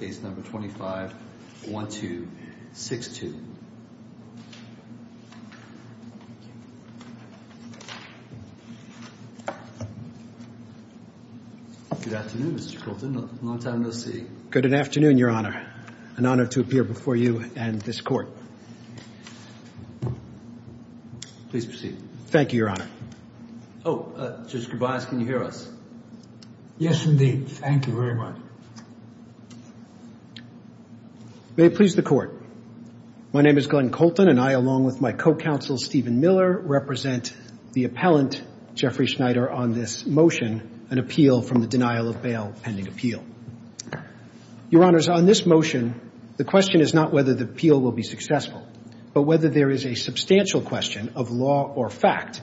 case number 251262. Good afternoon, Mr. Colton. Long time no see. Good afternoon, Your Honor. An honor to appear before you and this court. Please proceed. Thank you, Your Honor. Oh, Judge Kobayashi, can you hear us? Yes, indeed. Thank you very much. May it please the court. My name is Glenn Colton, and I, along with my co-counsel, Stephen Miller, represent the appellant, Jeffrey Schneider, on this motion, an appeal from the denial of bail pending appeal. Your Honors, on this motion, the question is not whether the appeal will be successful, but whether there is a substantial question of law or fact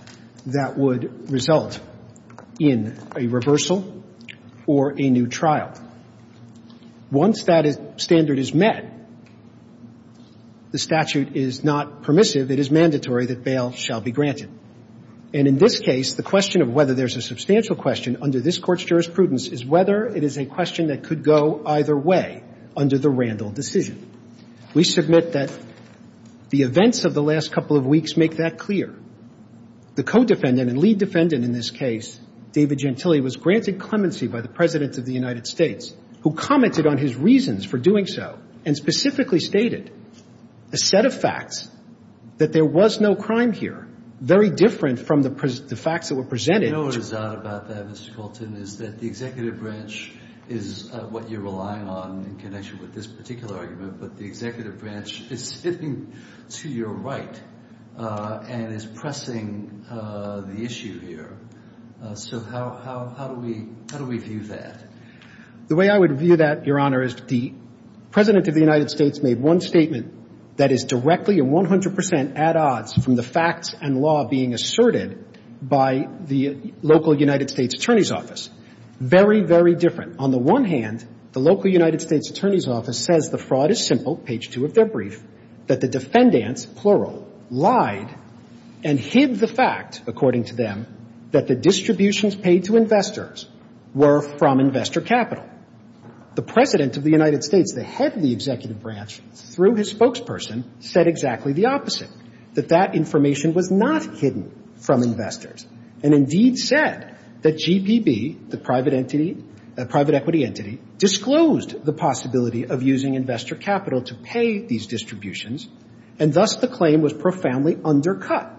that would result in a reversal or a new trial. Once that standard is met, the statute is not permissive. It is mandatory that bail shall be granted. And in this case, the question of whether there's a substantial question under this Court's jurisprudence is whether it is a question that could go either way under the Randall decision. We submit that the events of the last couple of weeks make that clear. The co-defendant and lead defendant in this case, David Gentile, was granted clemency by the President of the United States, who commented on his reasons for doing so and specifically stated a set of facts, that there was no crime here, very different from the facts that were presented. What is odd about that, Mr. Colton, is that the executive branch is what you're relying on in connection with this particular argument, but the executive branch is sitting to your right and is pressing the issue here. So how do we view that? The way I would view that, Your Honor, is the President of the United States made one statement that is directly and 100 percent at odds from the facts and law being asserted by the local United States Attorney's Office. Very, very different. On the one hand, the local United States Attorney's Office says the fraud is simple, page 2 of their brief, that the defendants, plural, lied and hid the fact, according to them, that the distributions paid to investors were from investor capital. The President of the United States, the head of the executive branch, through his spokesperson, said exactly the opposite, that that information was not hidden from investors and indeed said that GPB, the private entity, private equity entity, disclosed the possibility of using investor capital to pay these distributions, and thus the claim was profoundly undercut.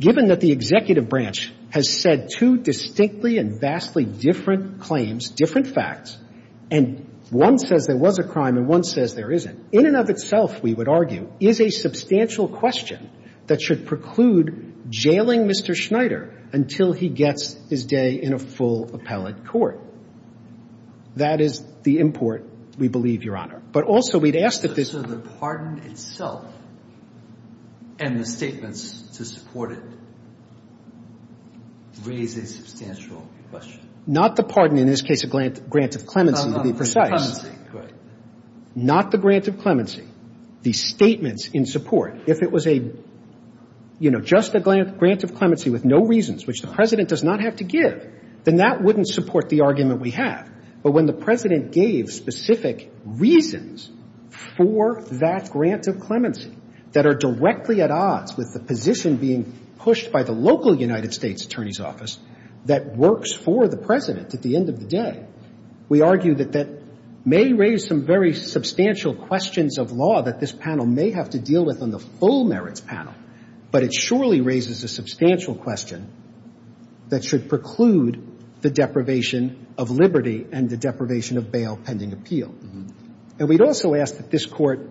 Given that the executive branch has said two distinctly and vastly different claims, different facts, and one says there was a crime and one says there isn't, in and of itself, we would argue, is a substantial question that should preclude jailing Mr. Schneider until he gets his day in a full appellate court. That is the import, we believe, Your Honor. But also we'd ask that this — So the pardon itself and the statements to support it raise a substantial question? Not the pardon. In this case, a grant of clemency, to be precise. A grant of clemency. Right. Not the grant of clemency. The statements in support. If it was a, you know, just a grant of clemency with no reasons, which the President does not have to give, then that wouldn't support the argument we have. But when the President gave specific reasons for that grant of clemency that are directly at odds with the position being pushed by the local United States Attorney's Office that works for the President at the end of the day, we argue that that may raise some very substantial questions of law that this panel may have to deal with on the full merits panel. But it surely raises a substantial question that should preclude the deprivation of liberty and the deprivation of bail pending appeal. And we'd also ask that this Court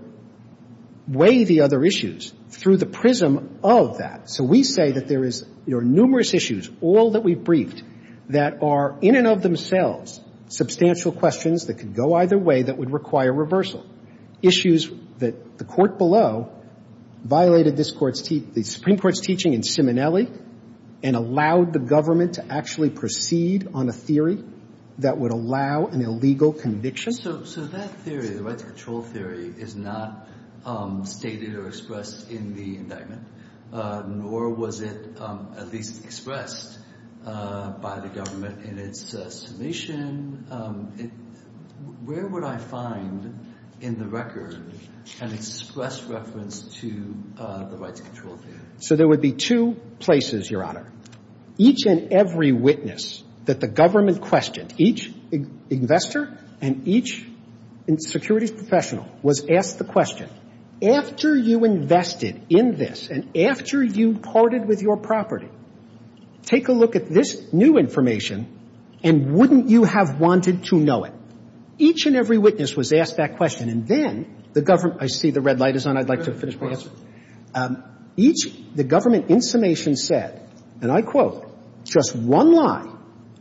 weigh the other issues through the prism of that. So we say that there is, you know, numerous issues, all that we've briefed, that are in and of themselves substantial questions that could go either way that would require reversal. Issues that the Court below violated the Supreme Court's teaching in Simonelli and allowed the government to actually proceed on a theory that would allow an illegal conviction. So that theory, the rights control theory, is not stated or expressed in the indictment, nor was it at least expressed by the government in its submission. Where would I find in the record an express reference to the rights control theory? So there would be two places, Your Honor. Each and every witness that the government questioned, each investor and each securities professional was asked the question, after you invested in this and after you parted with your property, take a look at this new information and wouldn't you have wanted to know it? Each and every witness was asked that question. And then the government – I see the red light is on. I'd like to finish my answer. Each – the government in summation said, and I quote, just one lie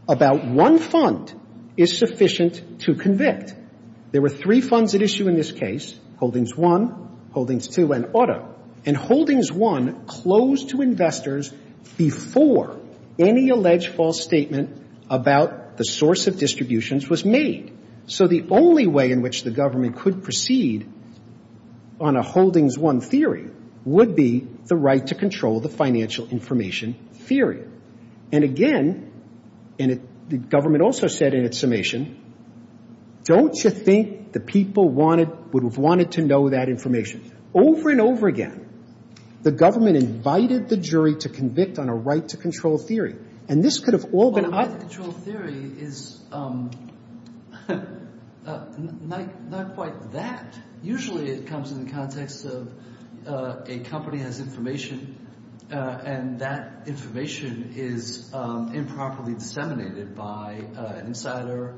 about one fund is sufficient to convict. There were three funds at issue in this case, Holdings I, Holdings II, and Otto. And Holdings I closed to investors before any alleged false statement about the source of distributions was made. So the only way in which the government could proceed on a Holdings I theory would be the right to control the financial information theory. And again, the government also said in its summation, don't you think the people would have wanted to know that information? Over and over again, the government invited the jury to convict on a right to control theory. And this could have all been up. Right to control theory is not quite that. Usually it comes in the context of a company has information and that information is improperly disseminated by an insider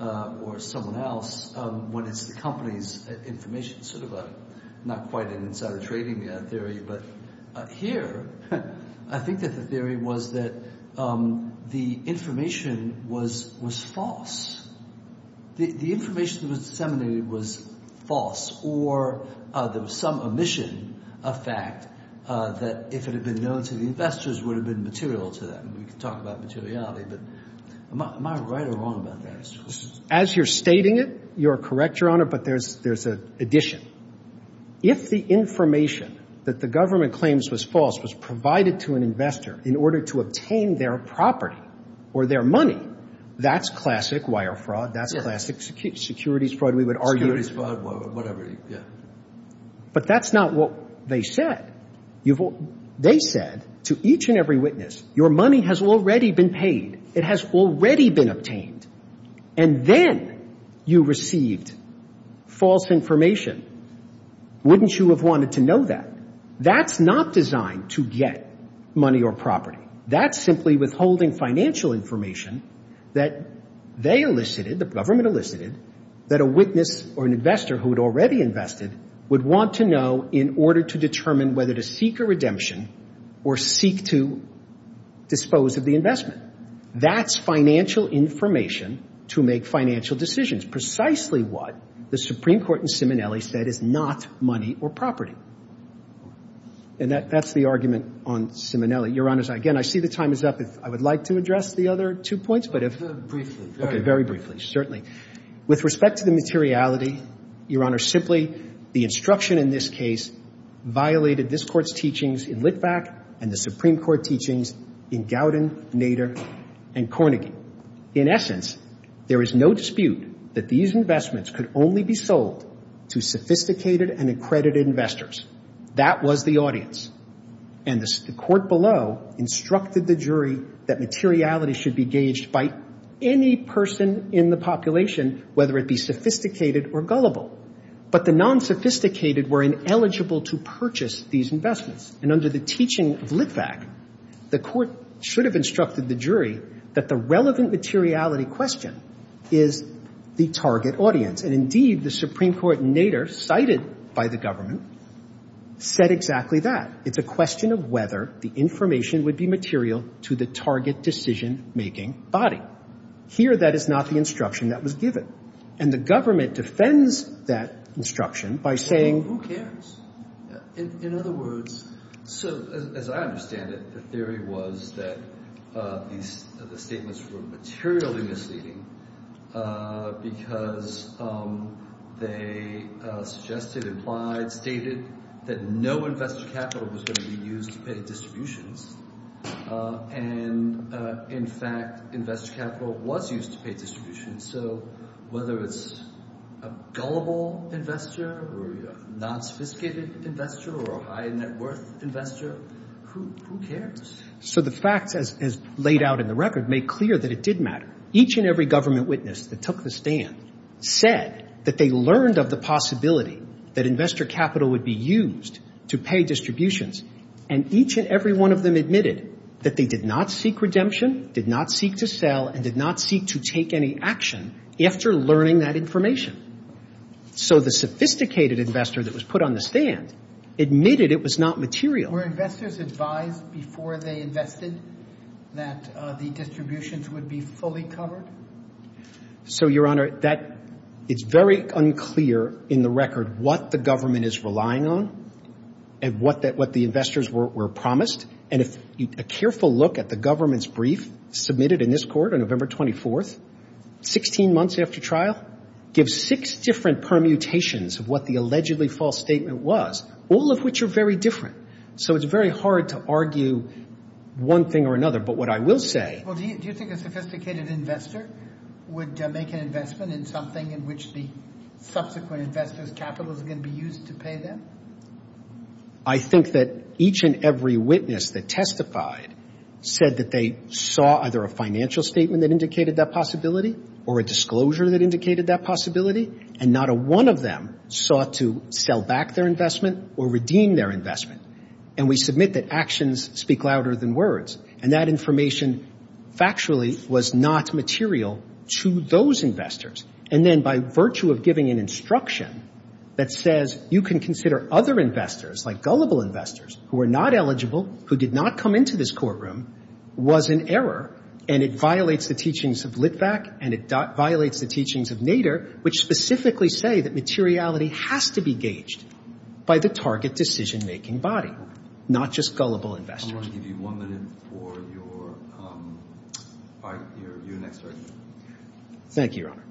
or someone else. When it's the company's information, sort of a – not quite an insider trading theory. But here I think that the theory was that the information was false. The information that was disseminated was false or there was some omission of fact that if it had been known to the investors, would have been material to them. We could talk about materiality, but am I right or wrong about that? As you're stating it, you're correct, Your Honor, but there's an addition. If the information that the government claims was false was provided to an investor in order to obtain their property or their money, that's classic wire fraud. That's classic securities fraud, we would argue. Securities fraud, whatever, yeah. But that's not what they said. They said to each and every witness, your money has already been paid. It has already been obtained. And then you received false information. Wouldn't you have wanted to know that? That's not designed to get money or property. That's simply withholding financial information that they elicited, the government elicited, that a witness or an investor who had already invested would want to know in order to determine whether to seek a redemption or seek to dispose of the investment. That's financial information to make financial decisions, precisely what the Supreme Court in Simonelli said is not money or property. And that's the argument on Simonelli. Your Honor, again, I see the time is up. I would like to address the other two points. Briefly. Okay, very briefly, certainly. With respect to the materiality, Your Honor, simply the instruction in this case violated this Court's teachings in Litvak and the Supreme Court teachings in Gowden, Nader, and Carnegie. In essence, there is no dispute that these investments could only be sold to sophisticated and accredited investors. That was the audience. And the court below instructed the jury that materiality should be gauged by any person in the population, whether it be sophisticated or gullible. But the non-sophisticated were ineligible to purchase these investments. And under the teaching of Litvak, the court should have instructed the jury that the relevant materiality question is the target audience. And, indeed, the Supreme Court in Nader, cited by the government, said exactly that. It's a question of whether the information would be material to the target decision-making body. Here, that is not the instruction that was given. And the government defends that instruction by saying who cares. In other words, so as I understand it, the theory was that the statements were materially misleading because they suggested, implied, stated that no investor capital was going to be used to pay distributions. And, in fact, investor capital was used to pay distributions. So whether it's a gullible investor or a non-sophisticated investor or a high-net-worth investor, who cares? So the facts, as laid out in the record, make clear that it did matter. Each and every government witness that took the stand said that they learned of the possibility that investor capital would be used to pay distributions. And each and every one of them admitted that they did not seek redemption, did not seek to sell, and did not seek to take any action after learning that information. So the sophisticated investor that was put on the stand admitted it was not material. Were investors advised before they invested that the distributions would be fully covered? So, Your Honor, it's very unclear in the record what the government is relying on and what the investors were promised. And a careful look at the government's brief submitted in this court on November 24th, 16 months after trial, gives six different permutations of what the allegedly false statement was, all of which are very different. So it's very hard to argue one thing or another. But what I will say... Well, do you think a sophisticated investor would make an investment in something in which the subsequent investor's capital is going to be used to pay them? I think that each and every witness that testified said that they saw either a financial statement that indicated that possibility or a disclosure that indicated that possibility, and not a one of them sought to sell back their investment or redeem their investment. And we submit that actions speak louder than words. And that information factually was not material to those investors. And then by virtue of giving an instruction that says, you can consider other investors, like gullible investors, who are not eligible, who did not come into this courtroom, was an error, and it violates the teachings of Litvak, and it violates the teachings of Nader, which specifically say that materiality has to be gauged by the target decision-making body, not just gullible investors. I'm going to give you one minute for your next argument. Thank you, Your Honor.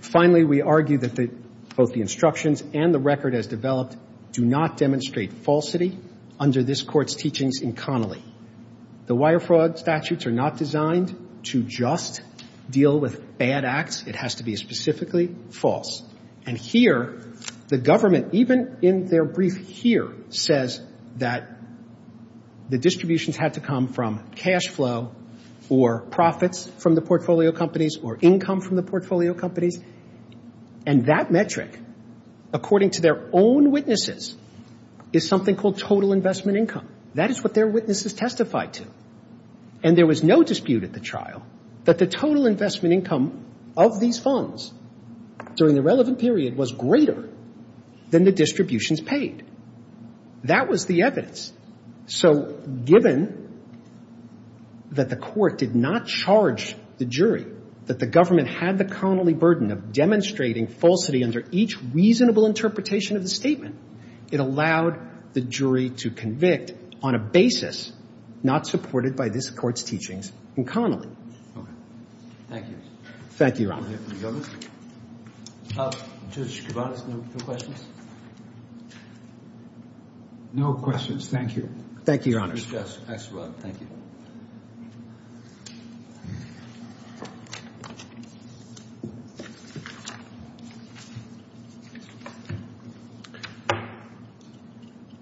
Finally, we argue that both the instructions and the record as developed do not demonstrate falsity under this Court's teachings in Connolly. The wire fraud statutes are not designed to just deal with bad acts. It has to be specifically false. And here, the government, even in their brief here, says that the distributions had to come from cash flow or profits from the portfolio companies or income from the portfolio companies. And that metric, according to their own witnesses, is something called total investment income. That is what their witnesses testified to. And there was no dispute at the trial that the total investment income of these funds during the relevant period was greater than the distributions paid. That was the evidence. So given that the Court did not charge the jury that the government had the Connolly burden of demonstrating falsity under each reasonable interpretation of the statement, it allowed the jury to convict on a basis not supported by this Court's teachings in Connolly. Thank you. Thank you, Your Honor. Are there any others? Judge Kovanez, no questions? No questions, thank you. Thank you, Your Honors. Judge Axelrod, thank you.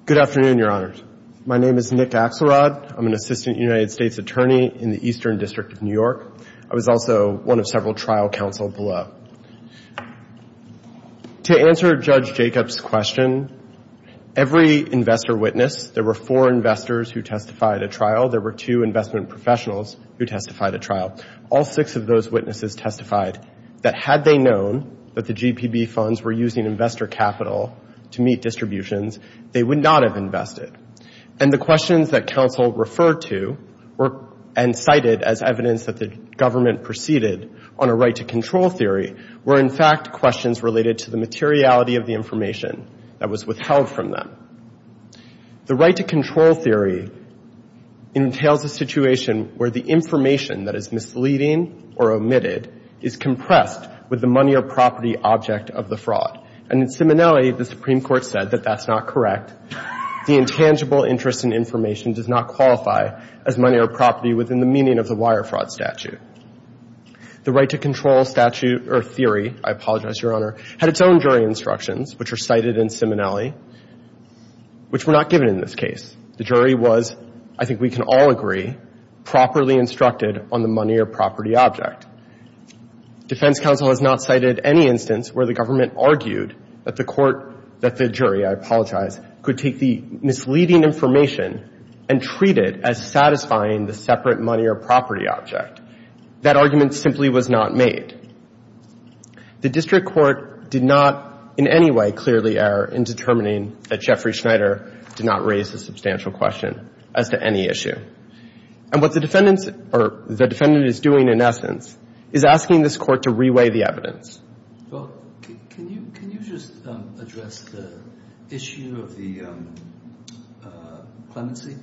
Good afternoon, Your Honors. My name is Nick Axelrod. I'm an assistant United States attorney in the Eastern District of New York. I was also one of several trial counsel below. To answer Judge Jacob's question, every investor witnessed. There were four investors who testified at trial. There were two investment professionals who testified at trial. All six of those witnesses testified that had they known that the GPB funds were using investor capital to meet distributions, they would not have invested. And the questions that counsel referred to and cited as evidence that the government proceeded on a right-to-control theory were in fact questions related to the materiality of the information that was withheld from them. The right-to-control theory entails a situation where the information that is misleading or omitted is compressed with the money or property object of the fraud. And in Simonelli, the Supreme Court said that that's not correct. The intangible interest in information does not qualify as money or property within the meaning of the wire fraud statute. The right-to-control statute or theory, I apologize, Your Honor, had its own jury instructions, which are cited in Simonelli, which were not given in this case. The jury was, I think we can all agree, properly instructed on the money or property object. Defense counsel has not cited any instance where the government argued that the court, that the jury, I apologize, could take the misleading information and treat it as satisfying the separate money or property object. That argument simply was not made. The district court did not in any way clearly err in determining that Jeffrey Schneider did not raise a substantial question as to any issue. And what the defendant is doing, in essence, is asking this Court to reweigh the evidence. Well, can you just address the issue of the clemency?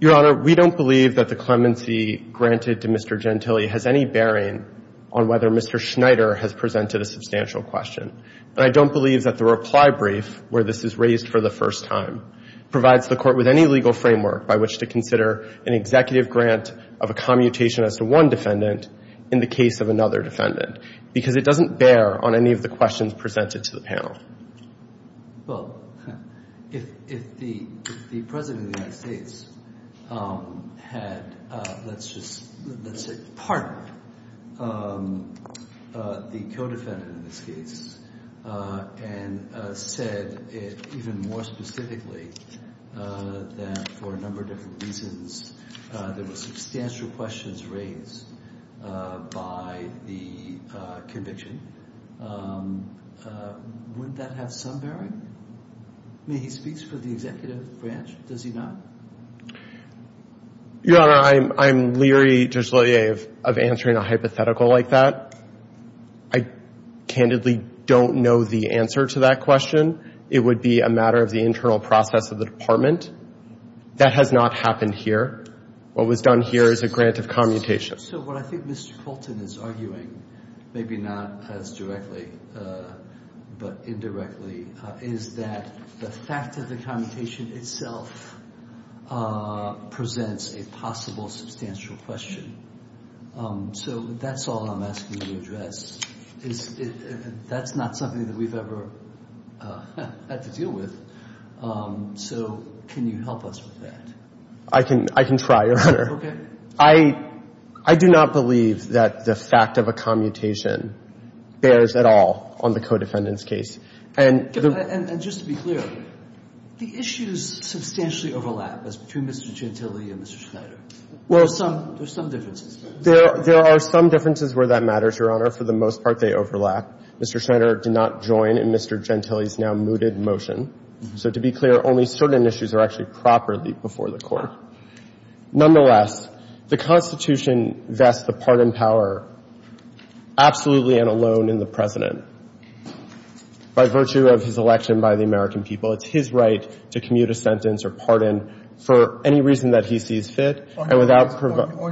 Your Honor, we don't believe that the clemency granted to Mr. Gentile has any bearing on whether Mr. Schneider has presented a substantial question. And I don't believe that the reply brief where this is raised for the first time provides the Court with any legal framework by which to consider an executive grant of a commutation as to one defendant in the case of another defendant. Because it doesn't bear on any of the questions presented to the panel. Well, if the President of the United States had, let's just say, pardoned the co-defendant in this case and said even more specifically that for a number of different reasons there were substantial questions raised by the conviction, would that have some bearing? I mean, he speaks for the executive branch. Does he not? Your Honor, I'm leery, Judge Leler, of answering a hypothetical like that. I candidly don't know the answer to that question. It would be a matter of the internal process of the Department. That has not happened here. What was done here is a grant of commutation. So what I think Mr. Colton is arguing, maybe not as directly but indirectly, is that the fact of the commutation itself presents a possible substantial question. So that's all I'm asking you to address. That's not something that we've ever had to deal with. So can you help us with that? I can try, Your Honor. Okay. I do not believe that the fact of a commutation bears at all on the co-defendant's case. And just to be clear, the issues substantially overlap between Mr. Gentile and Mr. Schneider. There are some differences. There are some differences where that matters, Your Honor. For the most part, they overlap. Mr. Schneider did not join in Mr. Gentile's now mooted motion. So to be clear, only certain issues are actually properly before the Court. Nonetheless, the Constitution vests the pardon power absolutely and alone in the President. By virtue of his election by the American people, it's his right to commute a sentence or pardon for any reason that he sees fit. Or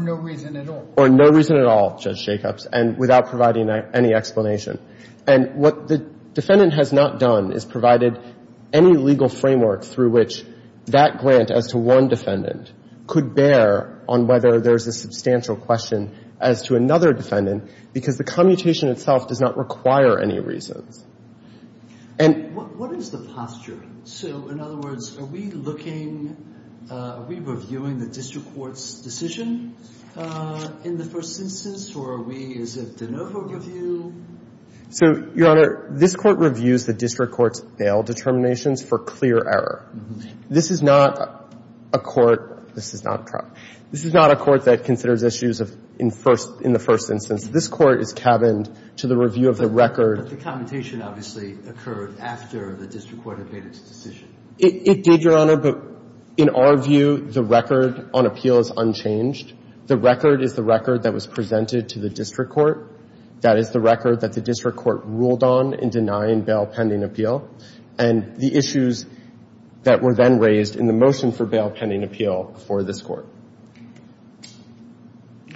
no reason at all. Or no reason at all, Judge Jacobs, and without providing any explanation. And what the defendant has not done is provided any legal framework through which that grant as to one defendant could bear on whether there's a substantial question as to another defendant because the commutation itself does not require any reasons. And... What is the posture? So, in other words, are we looking, are we reviewing the district court's decision in the first instance, or are we, is it de novo review? So, Your Honor, this Court reviews the district court's bail determinations for clear error. This is not a court, this is not a court that considers issues in the first instance. This Court is cabined to the review of the record. But the commutation obviously occurred after the district court had made its decision. It did, Your Honor, but in our view, the record on appeal is unchanged. The record is the record that was presented to the district court. That is the record that the district court ruled on in denying bail pending appeal. And the issues that were then raised in the motion for bail pending appeal before this Court.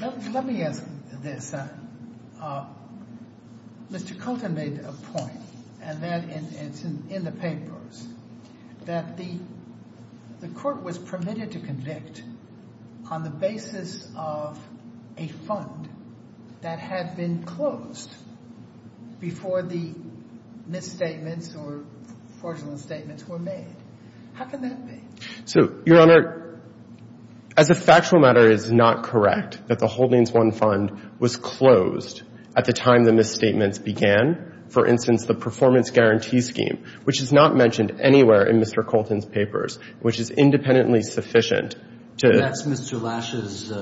Let me ask this. Mr. Colton made a point, and that is in the papers, that the court was permitted to convict on the basis of a fund that had been closed before the misstatements or fraudulent statements were made. How can that be? So, Your Honor, as a factual matter, it is not correct that the Holdings I fund was closed at the time the misstatements began. For instance, the performance guarantee scheme, which is not mentioned anywhere in Mr. Colton's papers, which is independently sufficient to... That's Mr. Lash's...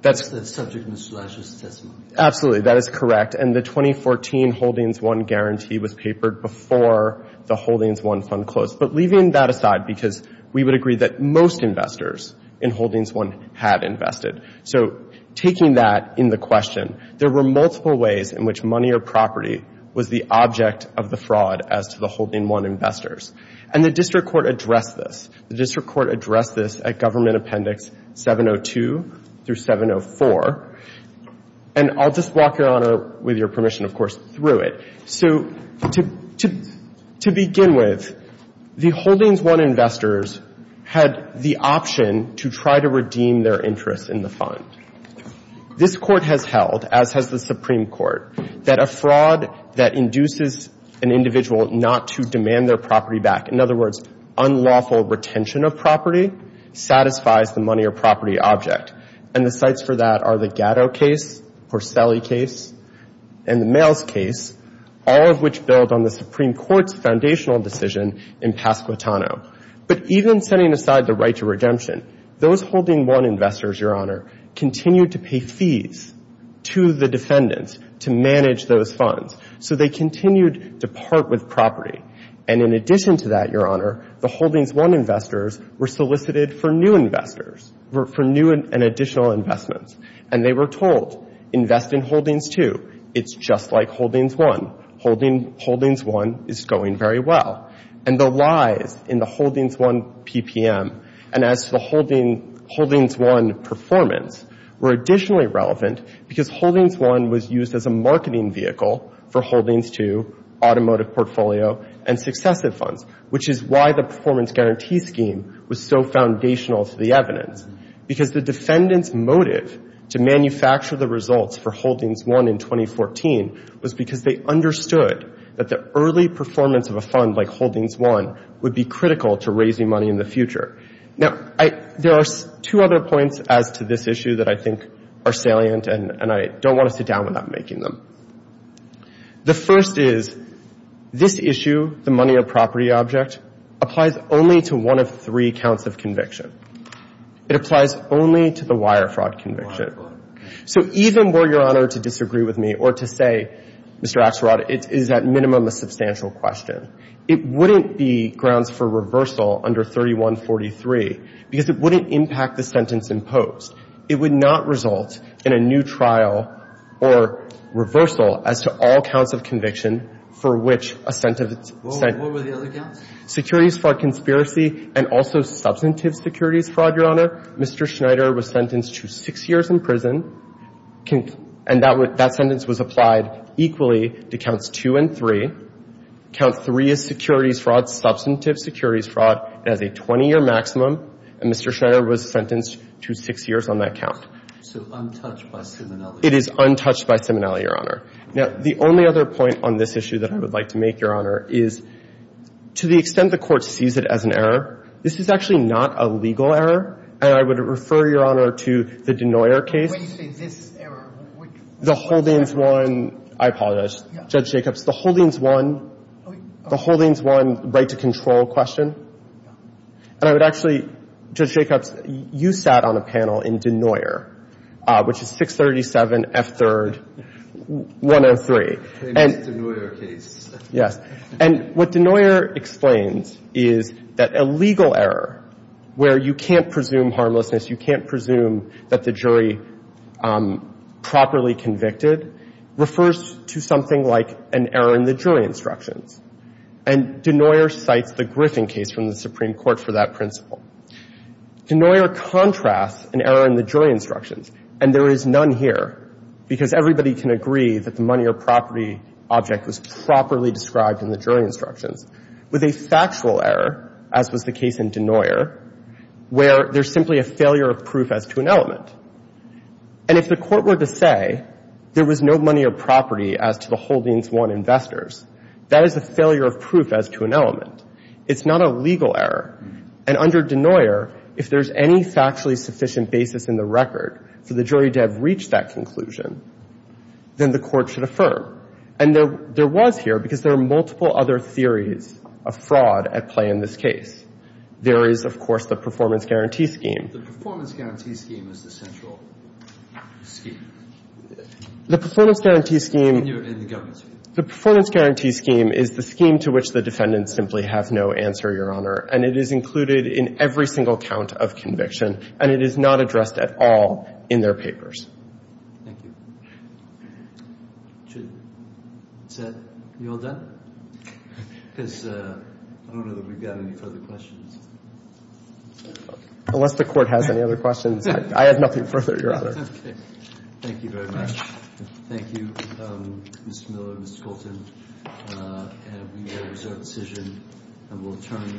That's subject to Mr. Lash's testimony. Absolutely. That is correct. And the 2014 Holdings I guarantee was papered before the Holdings I fund closed. But leaving that aside, because we would agree that most investors in Holdings I had invested. So taking that in the question, there were multiple ways in which money or property was the object of the fraud as to the Holdings I investors. And the district court addressed this. The district court addressed this at Government Appendix 702 through 704. And I'll just walk, Your Honor, with your permission, of course, through it. So to begin with, the Holdings I investors had the option to try to redeem their interest in the fund. This Court has held, as has the Supreme Court, that a fraud that induces an individual not to demand their property back, in other words, unlawful retention of property, satisfies the money or property object. And the sites for that are the Gatto case, Porcelli case, and the Males case, all of which build on the Supreme Court's foundational decision in Pasquitano. But even setting aside the right to redemption, those Holdings I investors, Your Honor, continued to pay fees to the defendants to manage those funds. So they continued to part with property. And in addition to that, Your Honor, the Holdings I investors were solicited for new investors, for new and additional investments. And they were told, invest in Holdings II. It's just like Holdings I. Holdings I is going very well. And the lies in the Holdings I PPM and as to the Holdings I performance were additionally relevant because Holdings I was used as a marketing vehicle for Holdings II, automotive portfolio, and successive funds, which is why the performance guarantee scheme was so foundational to the evidence. Because the defendants' motive to manufacture the results for Holdings I in 2014 was because they understood that the early performance of a fund like Holdings I would be critical to raising money in the future. Now, there are two other points as to this issue that I think are salient, and I don't want to sit down without making them. The first is, this issue, the money or property object, applies only to one of three counts of conviction. It applies only to the wire fraud conviction. So even were Your Honor to disagree with me or to say, Mr. Axelrod, it is at minimum a substantial question, it wouldn't be grounds for reversal under 3143 because it wouldn't impact the sentence imposed. It would not result in a new trial or reversal as to all counts of conviction for which a sentence is set. What were the other counts? Securities fraud conspiracy and also substantive securities fraud, Your Honor. Mr. Schneider was sentenced to six years in prison, and that sentence was applied equally to counts two and three. Count three is securities fraud, substantive securities fraud. It has a 20-year maximum, and Mr. Schneider was sentenced to six years on that count. So untouched by Seminelli. It is untouched by Seminelli, Your Honor. Now, the only other point on this issue that I would like to make, Your Honor, is to the extent the Court sees it as an error, this is actually not a legal error, and I would refer, Your Honor, to the Denoyer case. When you say this error, which one? The Holdings 1, I apologize, Judge Jacobs. The Holdings 1, the Holdings 1 right to control question. And I would actually, Judge Jacobs, you sat on a panel in Denoyer, which is 637 F3rd 103. Denoyer case. Yes. And what Denoyer explains is that a legal error where you can't presume harmlessness, you can't presume that the jury properly convicted refers to something like an error in the jury instructions. And Denoyer cites the Griffin case from the Supreme Court for that principle. Denoyer contrasts an error in the jury instructions, and there is none here, because everybody can agree that the money or property object was properly described in the jury instructions, with a factual error, as was the case in Denoyer, where there's simply a failure of proof as to an element. And if the Court were to say there was no money or property as to the Holdings 1 investors, that is a failure of proof as to an element. It's not a legal error. And under Denoyer, if there's any factually sufficient basis in the record for the jury to have reached that conclusion, then the Court should affirm. And there was here, because there are multiple other theories of fraud at play in this case. There is, of course, the performance guarantee scheme. The performance guarantee scheme is the central scheme. The performance guarantee scheme... In the government scheme. The performance guarantee scheme is the scheme to which the defendants simply have no answer, Your Honor. And it is included in every single count of conviction, and it is not addressed at all in their papers. Thank you. Is that you all done? Because I don't know that we've got any further questions. Unless the Court has any other questions, I have nothing further, Your Honor. Okay. Thank you very much. Thank you, Mr. Miller. Thank you, Mr. Colton. And we will reserve the decision, and we'll adjourn the meeting.